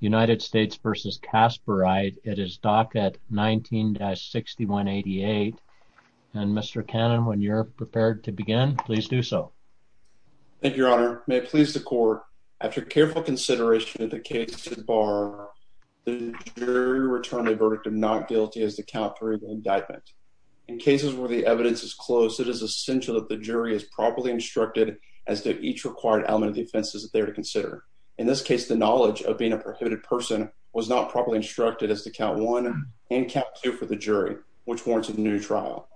United States v. Kaspereit. It is docket 19-6188. And Mr. Cannon, when you're prepared to begin, please do so. Thank you, Your Honor. May it please the court, after careful consideration of the case to the bar, the jury return the verdict of not guilty as the count for the indictment. In cases where the evidence is close, it is essential that the jury is properly instructed as to each required element defenses that they're to consider. In this case, the knowledge of being a prohibited person was not properly instructed as to count one and kept you for the jury, which warrants a new trial.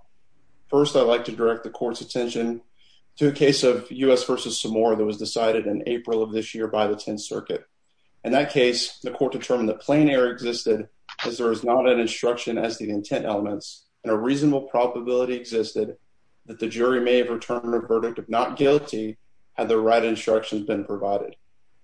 First, I'd like to direct the court's attention to a case of U. S. Versus some more that was decided in April of this year by the 10th Circuit. In that case, the court determined that plain air existed because there is not an instruction as the intent elements and a reasonable probability existed that the jury may have returned a verdict of not guilty. Had the right instructions been provided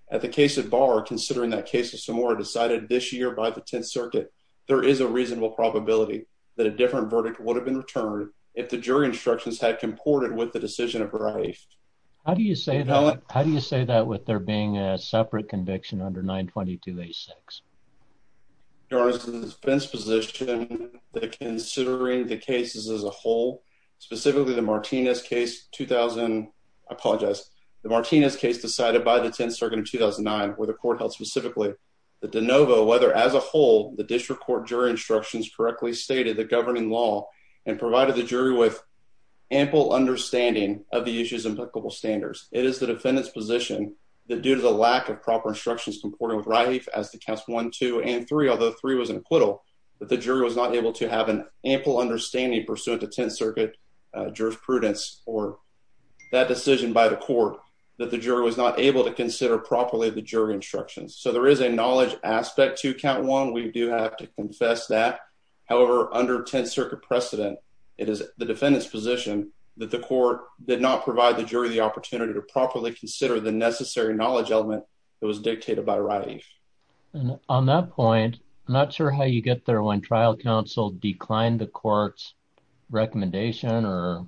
at the case of bar, considering that case of some or decided this year by the 10th Circuit, there is a reasonable probability that a different verdict would have been returned if the jury instructions had comported with the decision of her life. How do you say that? How do you say that? With there being a separate conviction under 9 22 86 Your Honor's defense position that considering the cases as a whole, specifically the Martinez case 2000 apologize. The Martinez case decided by the 10th Circuit in 2009, where the court held specifically the de novo, whether, as a whole, the district court jury instructions correctly stated the governing law and provided the jury with ample understanding of the issues implicable standards. It is the defendant's position that due to the lack of proper instructions, comporting with life as the cast one, two and three, although three was an acquittal that the jury was not able to have an ample understanding pursuant to 10th Circuit jurisprudence or that decision by the court that the jury was not able to consider properly the jury instructions. So there is a knowledge aspect to count one. We do have to confess that. However, under 10th Circuit precedent, it is the defendant's position that the court did not provide the jury the opportunity to properly consider the necessary knowledge element that was dictated by writing on that point. Not sure how you get there when trial counsel declined the court's recommendation or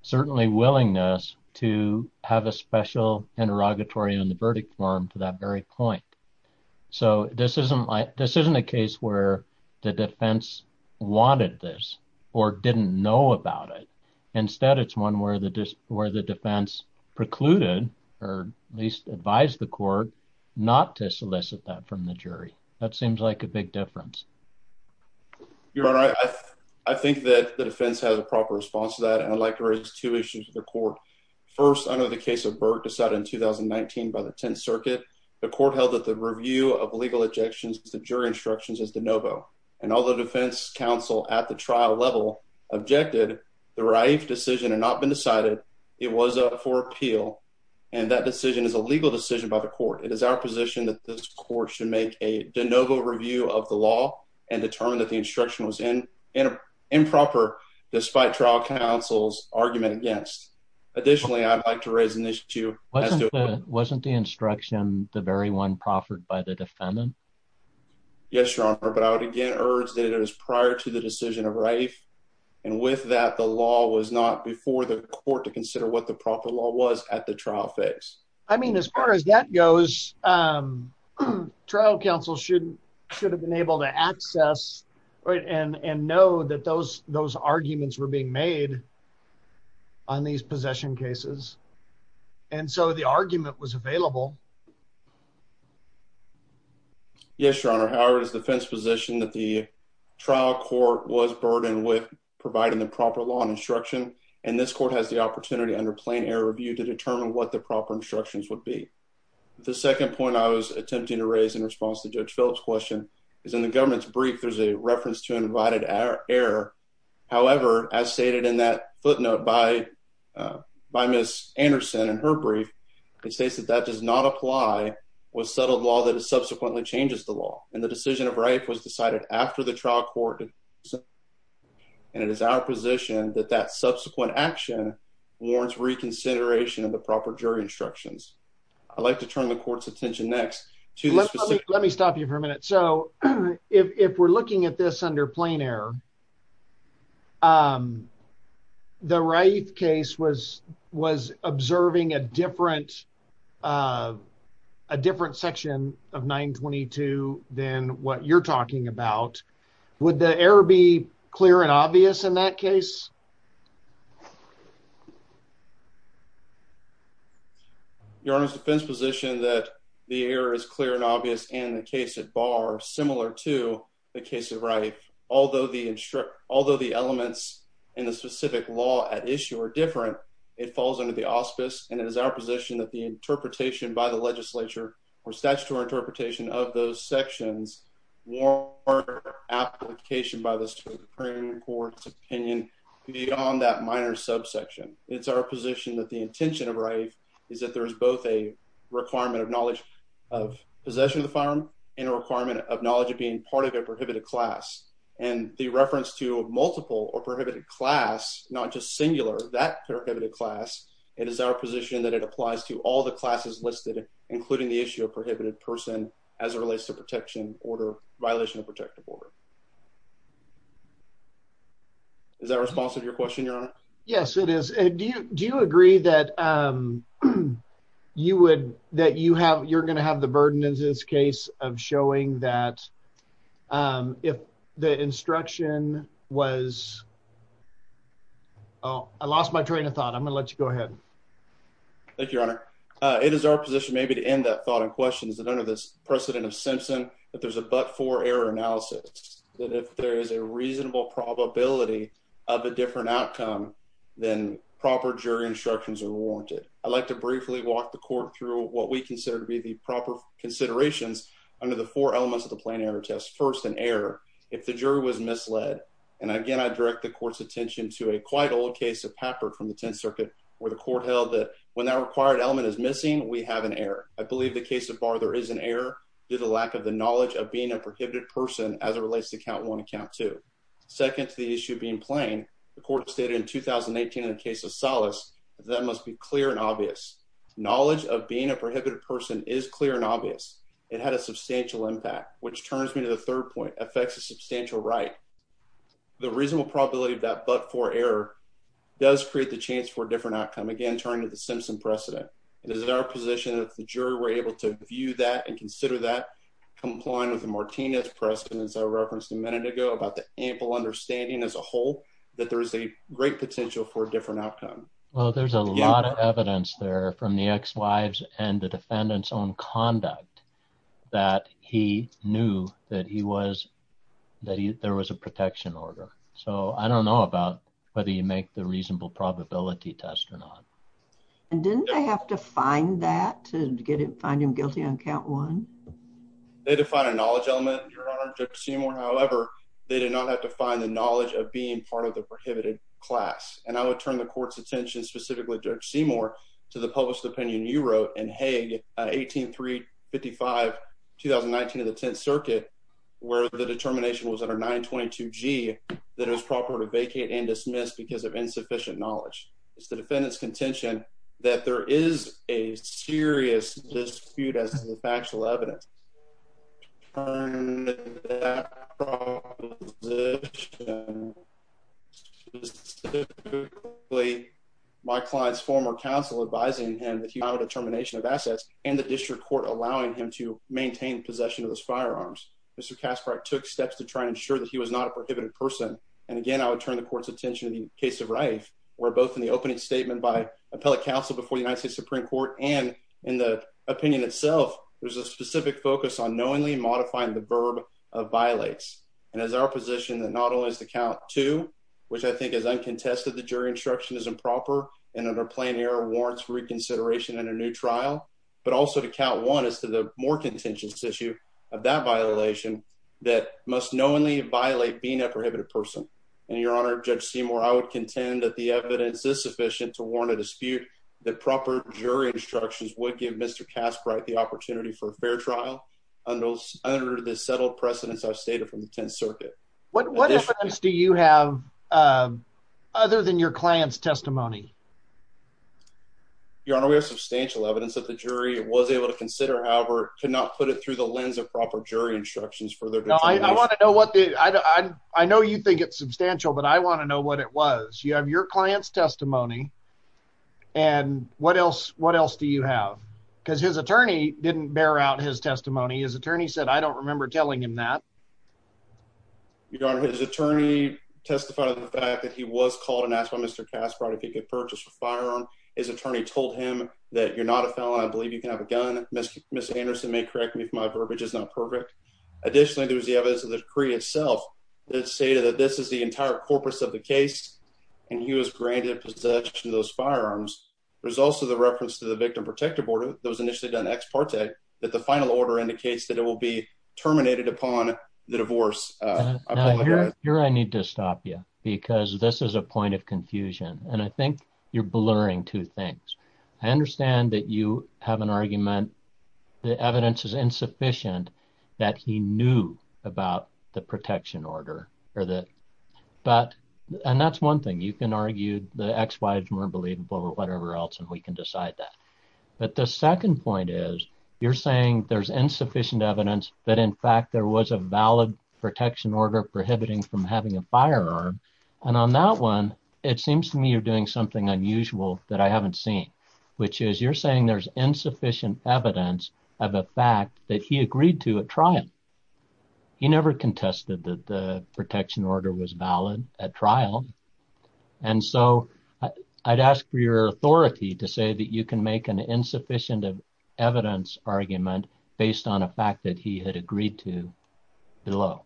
certainly willingness to have a special interrogatory on the verdict form for that very point. So this isn't a case where the defense wanted this or didn't know about it. Instead, it's one where the defense precluded or at least advised the court not to solicit that from the jury. So it doesn't make a big difference. Your Honor, I think that the defense has a proper response to that, and I'd like to raise two issues with the court. First, under the case of Burke decided in 2019 by the 10th Circuit, the court held that the review of legal objections to jury instructions is de novo. And although defense counsel at the trial level objected, the Raif decision had not been decided. It was up for appeal, and that decision is a legal decision by the court. It is our position that this court should make a de novo review of the law and determine that the instruction was improper, despite trial counsel's argument against. Additionally, I'd like to raise an issue as to... Wasn't the instruction the very one proffered by the defendant? Yes, Your Honor, but I would again urge that it was prior to the decision of Raif, and with that, the law was not before the court to consider what the proper law was at the trial phase. I mean, as far as that goes, trial counsel should have been able to access and know that those arguments were being made on these possession cases, and so the argument was available. Yes, Your Honor. However, it is the defense position that the trial court was burdened with providing the proper law and instruction, and this court has the opportunity under plain error review to determine what the proper instructions would be. The second point I was attempting to raise in response to Judge Phillips' question is, in the government's brief, there's a reference to an invited error. However, as stated in that footnote by Ms. Anderson in her brief, it states that that does not apply with settled law that subsequently changes the law, and the decision of Raif was decided after the trial court, and it is our position that that subsequent action warrants reconsideration of the proper jury instructions. I'd like to turn the court's attention next to this specific... Let me stop you for a minute. So, if we're looking at this under plain error, the Raif case was observing a different section of 922 than what you're talking about. Would the error be clear and obvious in that case? Your Honor's defense position that the error is clear and obvious in the case at bar, similar to the case at Raif. Although the elements in the specific law at issue are different, it falls under the auspice, and it is our position that the interpretation by the legislature or statutory interpretation of those sections warrant application by the Supreme Court's opinion beyond that minor subsection. It's our position that the intention of Raif is that there is both a requirement of knowledge of possession of the firearm and a requirement of knowledge of being part of a prohibited class. And the reference to multiple or prohibited class, not just singular, that prohibited class, it is our position that it applies to all the classes listed, including the issue of prohibited person as it relates to violation of protective order. Is that a response to your question, Your Honor? Yes, it is. Do you agree that you're gonna have the burden in this case of showing that if the instruction was Oh, I lost my train of thought. I'm gonna let you go ahead. Thank you, Your Honor. It is our position, maybe to end that thought and questions that under this precedent of Simpson, that there's a but for error analysis that if there is a reasonable probability of a different outcome, then proper jury instructions are warranted. I'd like to briefly walk the court through what we consider to be the proper considerations under the four elements of the plane error test. First, an error if the jury was misled. And again, I direct the court's attention to a quite old case of Pappard from the 10th Circuit, where the court held that when that required element is missing, we have an error. I believe the case of Barther is an error due to lack of the knowledge of being a prohibited person as it relates to count one account to second to the issue being plain. The court stated in 2018 in the case of solace that must be clear and obvious. Knowledge of being a prohibited person is clear and obvious. It had a substantial impact, which turns me to the third point affects a substantial right. The reasonable probability of that but for error does create the chance for a different outcome. Again, turning to the Simpson precedent, it is in our position that the jury were able to view that and consider that complying with the Martinez precedents I referenced a minute ago about the ample outcome. Well, there's a lot of evidence there from the ex wives and the defendant's own conduct that he knew that he was that there was a protection order. So I don't know about whether you make the reasonable probability test or not. And didn't I have to find that to get it? Find him guilty on count one. They define a knowledge element. Your honor, Seymour. However, they did not have to find the knowledge of being part of the court's attention. Specifically, George Seymour to the published opinion. You wrote and Hey, 18 3 55 2019 of the 10th Circuit, where the determination was under 9 22 G that is proper to vacate and dismissed because of insufficient knowledge. It's the defendant's contention that there is a serious dispute as the factual evidence turn. The specifically my client's former counsel advising him that you have a determination of assets and the district court allowing him to maintain possession of those firearms. Mr Casper took steps to try and ensure that he was not a prohibited person. And again, I would turn the court's attention in the case of life were both in the opening statement by appellate counsel before the United States Supreme Court and in the opinion itself. There's a specific focus on knowingly modifying the verb of violates and is our position that not only is the count to which I think is uncontested. The jury instruction is improper and under plain air warrants reconsideration in a new trial, but also to count one is to the more contentious issue of that violation that must knowingly violate being a prohibited person. And your honor, Judge Seymour, I would contend that the evidence is sufficient to warn a dispute that proper jury instructions would give Mr Casper the opportunity for a fair trial on those under the settled precedents. I've stated from the 10th Circuit. What? What do you have? Um, other than your client's testimony? Your honor, we have substantial evidence that the jury was able to consider. However, could not put it through the lens of proper jury instructions for their. I want to know what I know. You think it's substantial, but I want to know what it was. You have your client's testimony and what else? What else do you have? Because his attorney didn't bear out his testimony. His attorney said, I don't remember telling him that you don't. His attorney testified of the fact that he was called and asked by Mr Casper if he could purchase a firearm. His attorney told him that you're not a felon. I believe you can have a gun. Miss Anderson may correct me if my verbiage is not perfect. Additionally, there was the evidence of the decree itself that say that this is the entire corpus of the case, and he was granted possession of those firearms. There's also the reference to the victim protective order that was initially done ex parte that the final order indicates that it will be terminated upon the divorce. Uh, here I need to stop you because this is a point of confusion, and I think you're blurring two things. I understand that you have an argument. The evidence is insufficient that he knew about the protection order or that. But and that's one thing. You can argue the X Y is more believable or whatever else, and we can decide that. But the second point is you're saying there's insufficient evidence that, in fact, there was a valid protection order prohibiting from having a firearm. And on that one, it seems to me you're doing something unusual that I haven't seen, which is you're saying there's insufficient evidence of a fact that he agreed to a trial. He never contested that the protection order was valid at trial, and so I'd ask for your authority to say that you can make an insufficient of evidence argument based on a fact that he had agreed to below.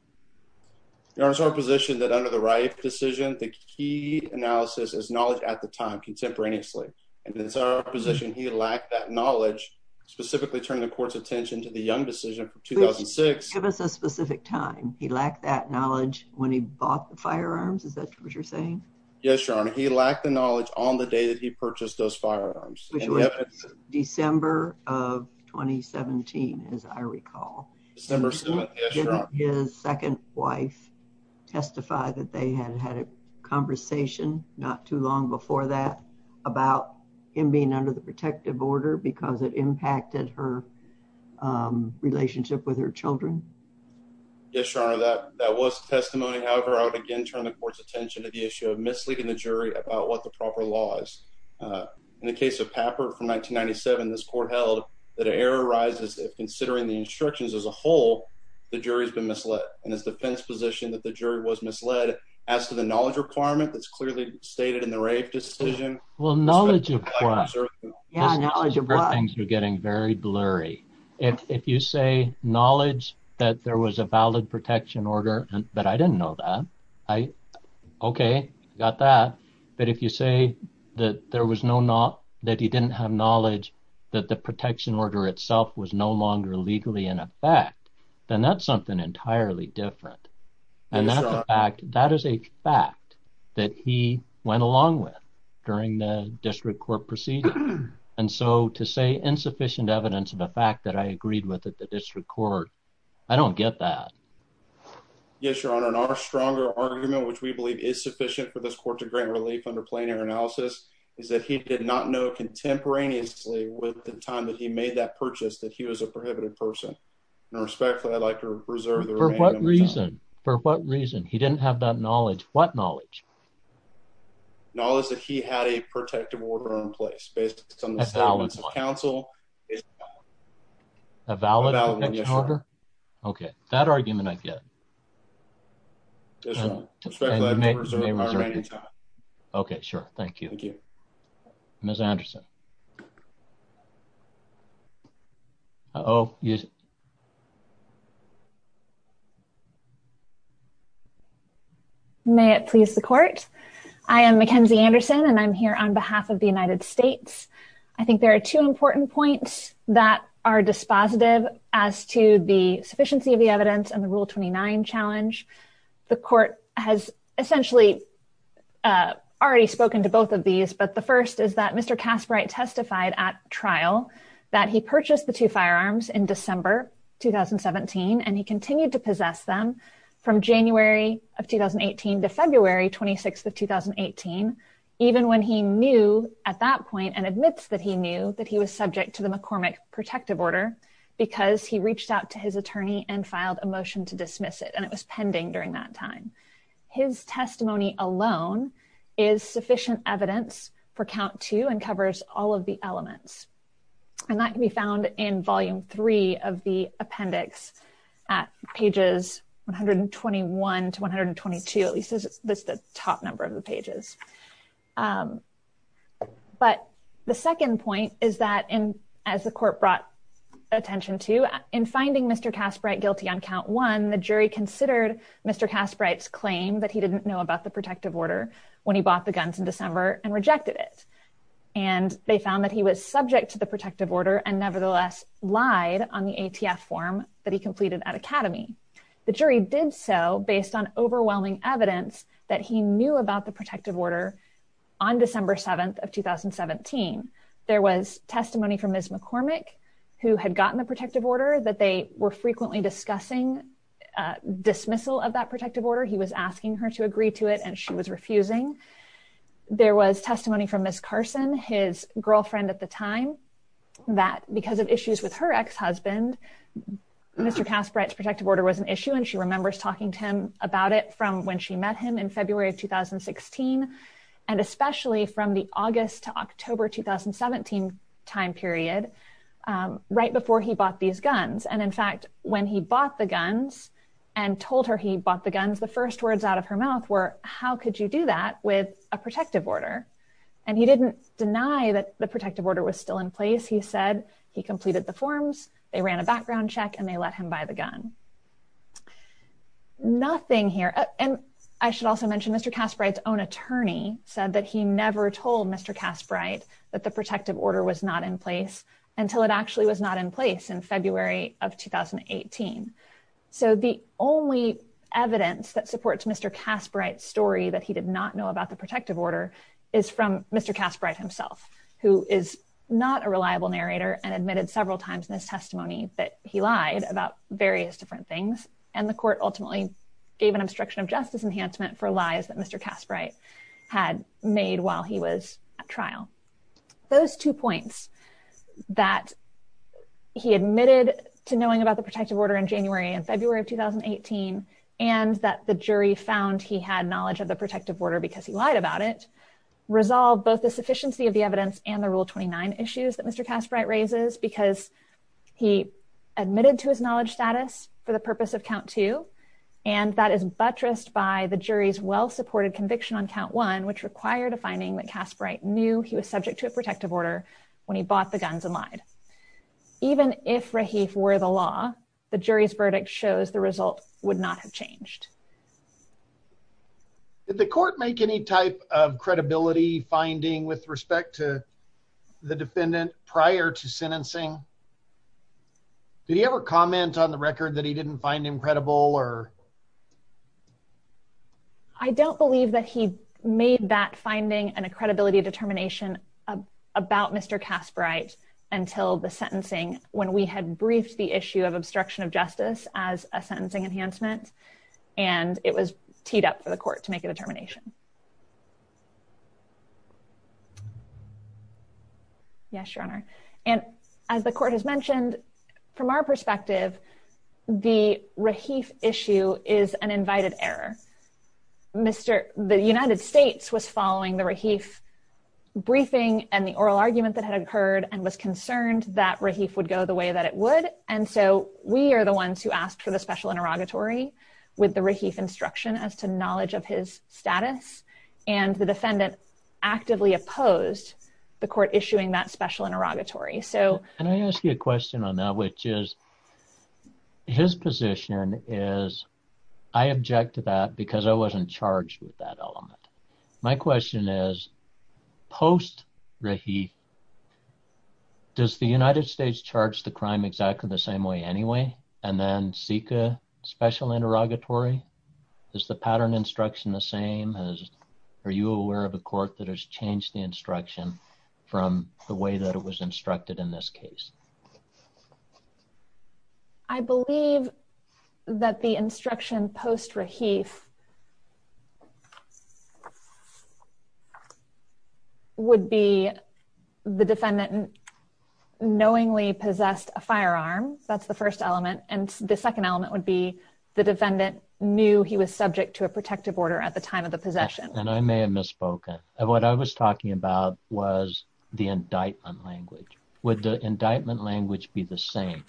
Your Honor's our position that under the right decision, the key analysis is knowledge at the time contemporaneously, and it's our position he lacked that knowledge specifically turn the court's attention to the young 2006 specific time. He lacked that knowledge when he bought the firearms. Is that what you're saying? Yes, Your Honor. He lacked the knowledge on the day that he purchased those firearms, December of 2017. As I recall, his second wife testified that they had had a conversation not too long before that about him being under the protective order because it impacted her relationship with her Children. Yes, Your Honor. That that was testimony. However, I would again turn the court's attention to the issue of misleading the jury about what the proper laws in the case of paper from 1997. This court held that air arises if considering the instructions as a whole, the jury's been misled in his defense position that the jury was misled as to the knowledge requirement that's clearly stated in the rape decision. Well, things were getting very blurry. If you say knowledge that there was a valid protection order, but I didn't know that. I okay, got that. But if you say that there was no not that he didn't have knowledge that the protection order itself was no longer legally in effect, then that's something entirely different. And that is a fact that he went along with during the district court proceeding. And so to say insufficient evidence of the fact that I agreed with the district court, I don't get that. Yes, Your Honor. And our stronger argument, which we believe is sufficient for this court to grant relief under plain air analysis, is that he did not know contemporaneously with the time that he made that purchase that he was a prohibited person. Respectfully, I'd like to reserve the reason for what reason he didn't have that knowledge. What knowledge knowledge? Knowledge that he had a protective order in place based on this balance of counsel. A valid order. Okay, that argument I get this way. Okay, sure. Thank you. Thank you, Miss Anderson. Oh, yes. Thank you, Your Honor. May it please the court. I am Mackenzie Anderson, and I'm here on behalf of the United States. I think there are two important points that are dispositive as to the sufficiency of the evidence and the rule 29 challenge. The court has essentially, uh, already spoken to both of these. But the first is that Mr. Casperite testified at trial that he purchased the two firearms in 2017, and he continued to possess them from January of 2018 to February 26th of 2018, even when he knew at that point and admits that he knew that he was subject to the McCormick protective order because he reached out to his attorney and filed a motion to dismiss it, and it was pending during that time. His testimony alone is sufficient evidence for count to and covers all of the elements, and that can be found in volume three of the appendix at pages 121 to 122. At least that's the top number of the pages. Um, but the second point is that as the court brought attention to in finding Mr Casperite guilty on count one, the jury considered Mr Casperite's claim that he didn't know about the protective order when he bought the guns in and they found that he was subject to the protective order and nevertheless lied on the A. T. F. Form that he completed at Academy. The jury did so based on overwhelming evidence that he knew about the protective order. On December 7th of 2017, there was testimony from his McCormick who had gotten the protective order that they were frequently discussing dismissal of that protective order. He was asking her to agree to it, and she was refusing. There was testimony from Miss Carson, his girlfriend at the time that because of issues with her ex husband, Mr Casperite's protective order was an issue, and she remembers talking to him about it from when she met him in February of 2016 and especially from the August to October 2017 time period right before he bought these guns. And in fact, when he bought the guns and told her he bought the guns, the first words out of her mouth were, How could you do that with a protective order? And he didn't deny that the protective order was still in place. He said he completed the forms. They ran a background check, and they let him buy the gun. Nothing here. And I should also mention Mr Casperite's own attorney said that he never told Mr Casperite that the protective order was not in place until it actually was not in place in February of 2018. So the only evidence that supports Mr Casperite's story that he did not know about the protective order is from Mr Casperite himself, who is not a reliable narrator and admitted several times in his testimony that he lied about various different things, and the court ultimately gave an obstruction of justice enhancement for lies that Mr Casperite had made while he was at trial. Those two points that he admitted to knowing about the protective order in January and February of 2018 and that the jury found he had knowledge of the protective order because he lied about it resolved both the sufficiency of the evidence and the rule 29 issues that Mr Casperite raises because he admitted to his knowledge status for the purpose of count two, and that is buttressed by the jury's well supported conviction on count one, which required a finding that Casperite knew he was subject to a he for the law. The jury's verdict shows the result would not have changed if the court make any type of credibility finding with respect to the defendant prior to sentencing. Do you ever comment on the record that he didn't find incredible or I don't believe that he made that finding and a credibility determination about Mr Casperite until the sentencing when we had briefed the issue of obstruction of justice as a sentencing enhancement, and it was teed up for the court to make a determination. Yes, Your Honor. And as the court has mentioned, from our perspective, the Rahif issue is an invited error. Mr. The United States was following the Rahif briefing and the oral argument that had occurred and was concerned that Rahif would go the way that it would. And so we're the ones who asked for the special interrogatory with the Rahif instruction as to knowledge of his status, and the defendant actively opposed the court issuing that special interrogatory. So can I ask you a question on that, which is his position is I object to that because I wasn't charged with that element. My question is, post Rahif, does the United States charge the crime exactly the same way anyway, and then seek a special interrogatory? Is the pattern instruction the same? Are you aware of a court that has changed the instruction from the way that it was instructed in this case? I believe that the instruction post Rahif would be the defendant knowingly possessed a firearm. That's the first element. And the second element would be the defendant knew he was subject to a protective order at the time of the possession. And I may have misspoken. What I was talking about was the indictment language. Would the indictment language be the same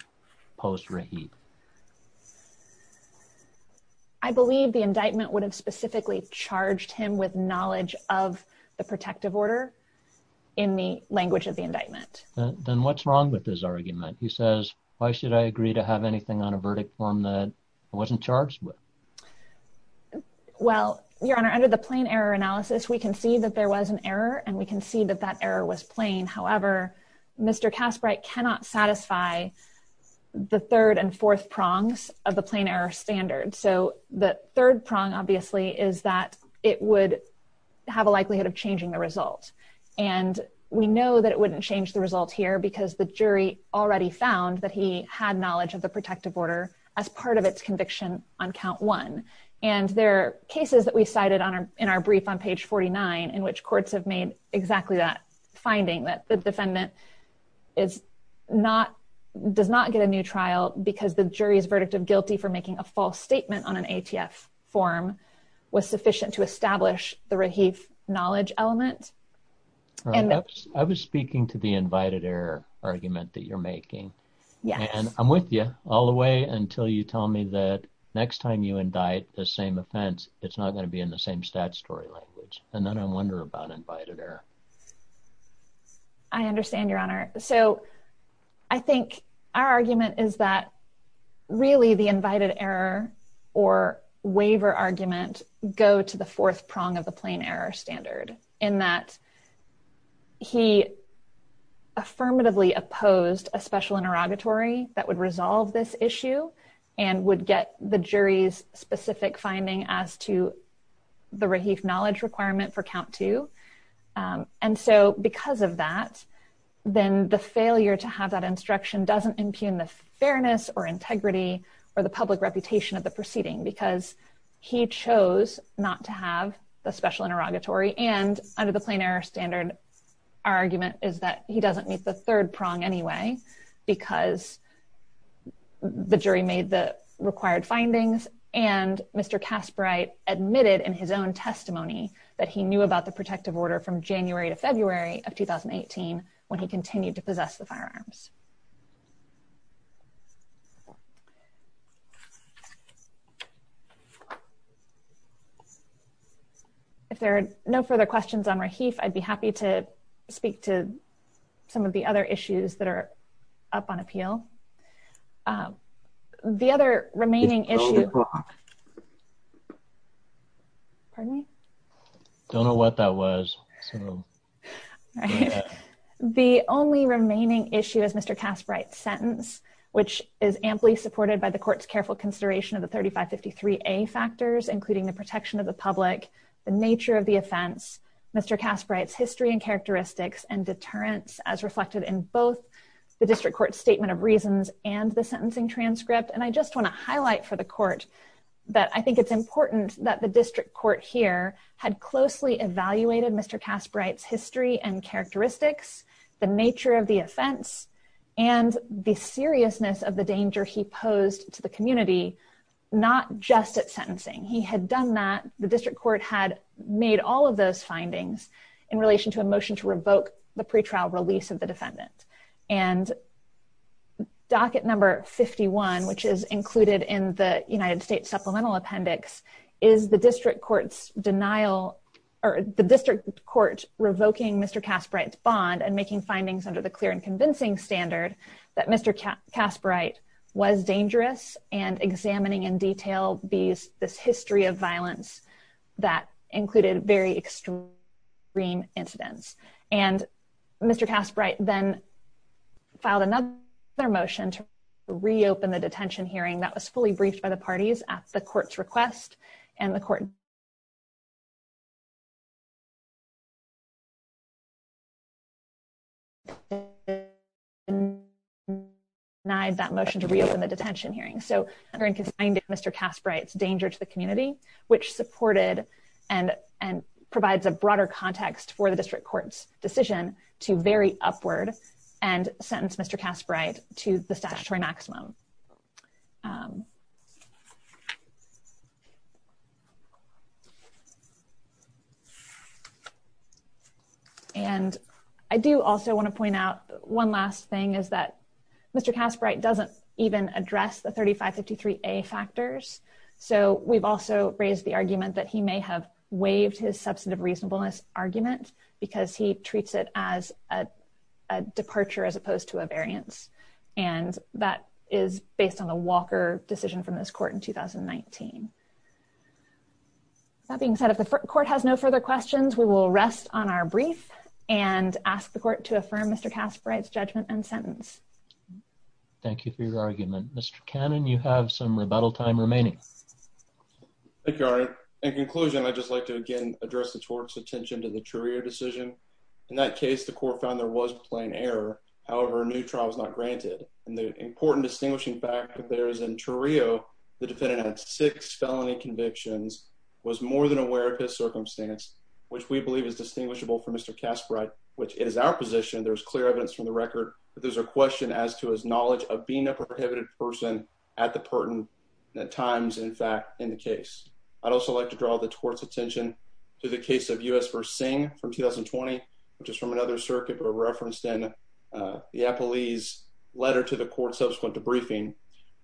post Rahif? I believe the indictment would have specifically charged him with knowledge of the protective order in the language of the indictment. Then what's wrong with this argument? He says, Why should I agree to have anything on a verdict form that wasn't charged with? Well, Your Honor, under the plain error analysis, we can see that there was an error, and we can see that that error was plain. However, Mr Casper, I cannot satisfy the third and fourth prongs of the plain error standard. So the third prong, obviously, is that it would have a likelihood of changing the result. And we know that it wouldn't change the result here because the jury already found that he had knowledge of the protective order as part of its conviction on count one. And there are cases that we cited in our brief on page 49, in which courts have made exactly that finding that the defendant does not get a new trial because the jury's verdict of guilty for making a false statement on an ATF form was sufficient to establish the Rahif knowledge element. I was speaking to the invited error argument that you're making. And I'm with you all the way until you tell me that next time you indict the same offense, it's not going to be in the same statutory language. And then I wonder about invited error. I understand, Your Honor. So I think our argument is that really the invited error, or waiver argument, go to the fourth prong of the plain error standard, in that he affirmatively opposed a special interrogatory that would resolve this issue, and would get the jury's specific finding as to the Rahif knowledge requirement for count two. And so because of that, then the failure to have that instruction doesn't impugn the fairness or integrity, or the public reputation of the proceeding, because he chose not to have the special interrogatory. And under the plain error standard, our argument is that he doesn't meet the third prong anyway, because the jury made the required findings. And Mr. Kasperite admitted in his own testimony, that he knew about the protective order from January to February of 2018, when he continued to possess the firearms. If there are no further questions on Rahif, I'd be happy to speak to some of the other issues that are up on appeal. The other remaining issue... Pardon me? Don't know what that was. The only remaining issue is Mr. Kasperite's sentence, which is amply supported by the court's careful consideration of the 3553A factors, including the protection of the public, the nature of the offense, Mr. Kasperite's history and characteristics and deterrence, as reflected in both the district court statement of reasons and the sentencing transcript. And I just want to highlight for the court, that I think it's important that the district court here had closely evaluated Mr. Kasperite's history and characteristics, the nature of the offense, and the seriousness of the danger he posed to the community, not just at sentencing. He had done that, the district court had made all of those findings in relation to a motion to revoke the pretrial release of the defendant. And docket number 51, which is included in the United States Supplemental Appendix, is the district court's denial, or the district court's denial, of Mr. Kasperite's actions. And I just want to highlight for the court, that the district court had made all of those findings in relation to a motion to revoke the pretrial release of the defendant. And docket number 51, which is included in the United States Supplemental Appendix, is the district court's denial of Mr. Kasperite's actions. And docket number 51, which is included in the United States Supplemental Appendix, is the district court's denial of Mr. Kasperite's actions. And the district court denied that motion to reopen the detention hearing. So, under inconsistency of Mr. Kasperite's danger to the community, which supported and, and provides a broader context for the district court's decision to very upward, and sentence Mr. Kasperite to the statutory maximum. And I do also want to point out one last thing is that Mr. Kasperite doesn't even address the 3553A factors. So we've also raised the argument that he may have waived his substantive reasonableness argument, because he treats it as a departure as opposed to a variance. And that is based on the Walker decision from this court in 2019. That being said, if the court has no further questions, we will rest on our brief and ask the court to affirm Mr. Kasperite's judgment and sentence. Thank you for your argument. Mr. Cannon, you have some rebuttal time remaining. Thank you, Your Honor. In conclusion, I'd just like to again address the court's attention to the Trurio decision. In that case, the court found there was plain error. However, a new trial is not granted. And the important distinguishing factor there is in Trurio, the defendant had six felony convictions, was more than aware of his circumstance, which we believe is distinguishable from Mr. Kasperite, which is our position. There's clear evidence from the record that there's a question as to his knowledge of being a prohibited person at the pertinent times, in fact, in the case. I'd also like to draw the court's attention to the case of U.S. v. Singh from 2020, which is from another circuit, but referenced in the appellee's letter to the court subsequent to briefing,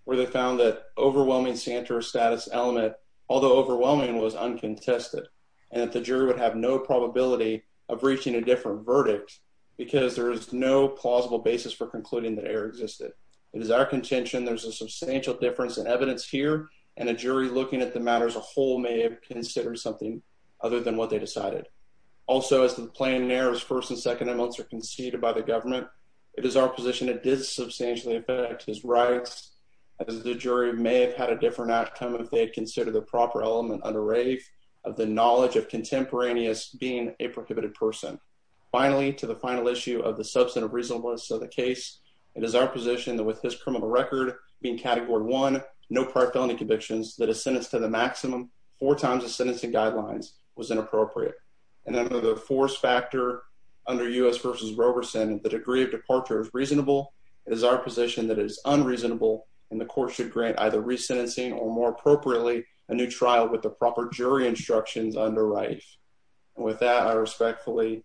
where they found that overwhelming center-of-status element, although overwhelming, was uncontested, and that the jury would have no probability of reaching a different verdict because there is no plausible basis for concluding that error existed. It is our contention there's a substantial difference in evidence here, and a jury looking at the matter as a whole may have considered something other than what they decided. Also, as to the plain errors first and second amongst or in effect his rights, as the jury may have had a different outcome if they had considered the proper element under Rafe of the knowledge of contemporaneous being a prohibited person. Finally, to the final issue of the substantive reasonableness of the case, it is our position that with his criminal record being Category 1, no prior felony convictions, that a sentence to the maximum four times the sentencing guidelines was inappropriate. And under the fourth factor, under U.S. v. Roberson, the degree of departure is our position that is unreasonable, and the court should grant either resentencing or, more appropriately, a new trial with the proper jury instructions under Rafe. With that, I respectfully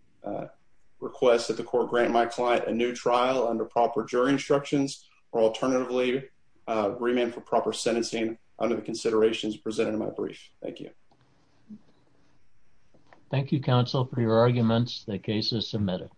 request that the court grant my client a new trial under proper jury instructions or, alternatively, a remand for proper sentencing under the considerations presented in my brief. Thank you. Thank you, counsel, for your arguments. The case is submitted.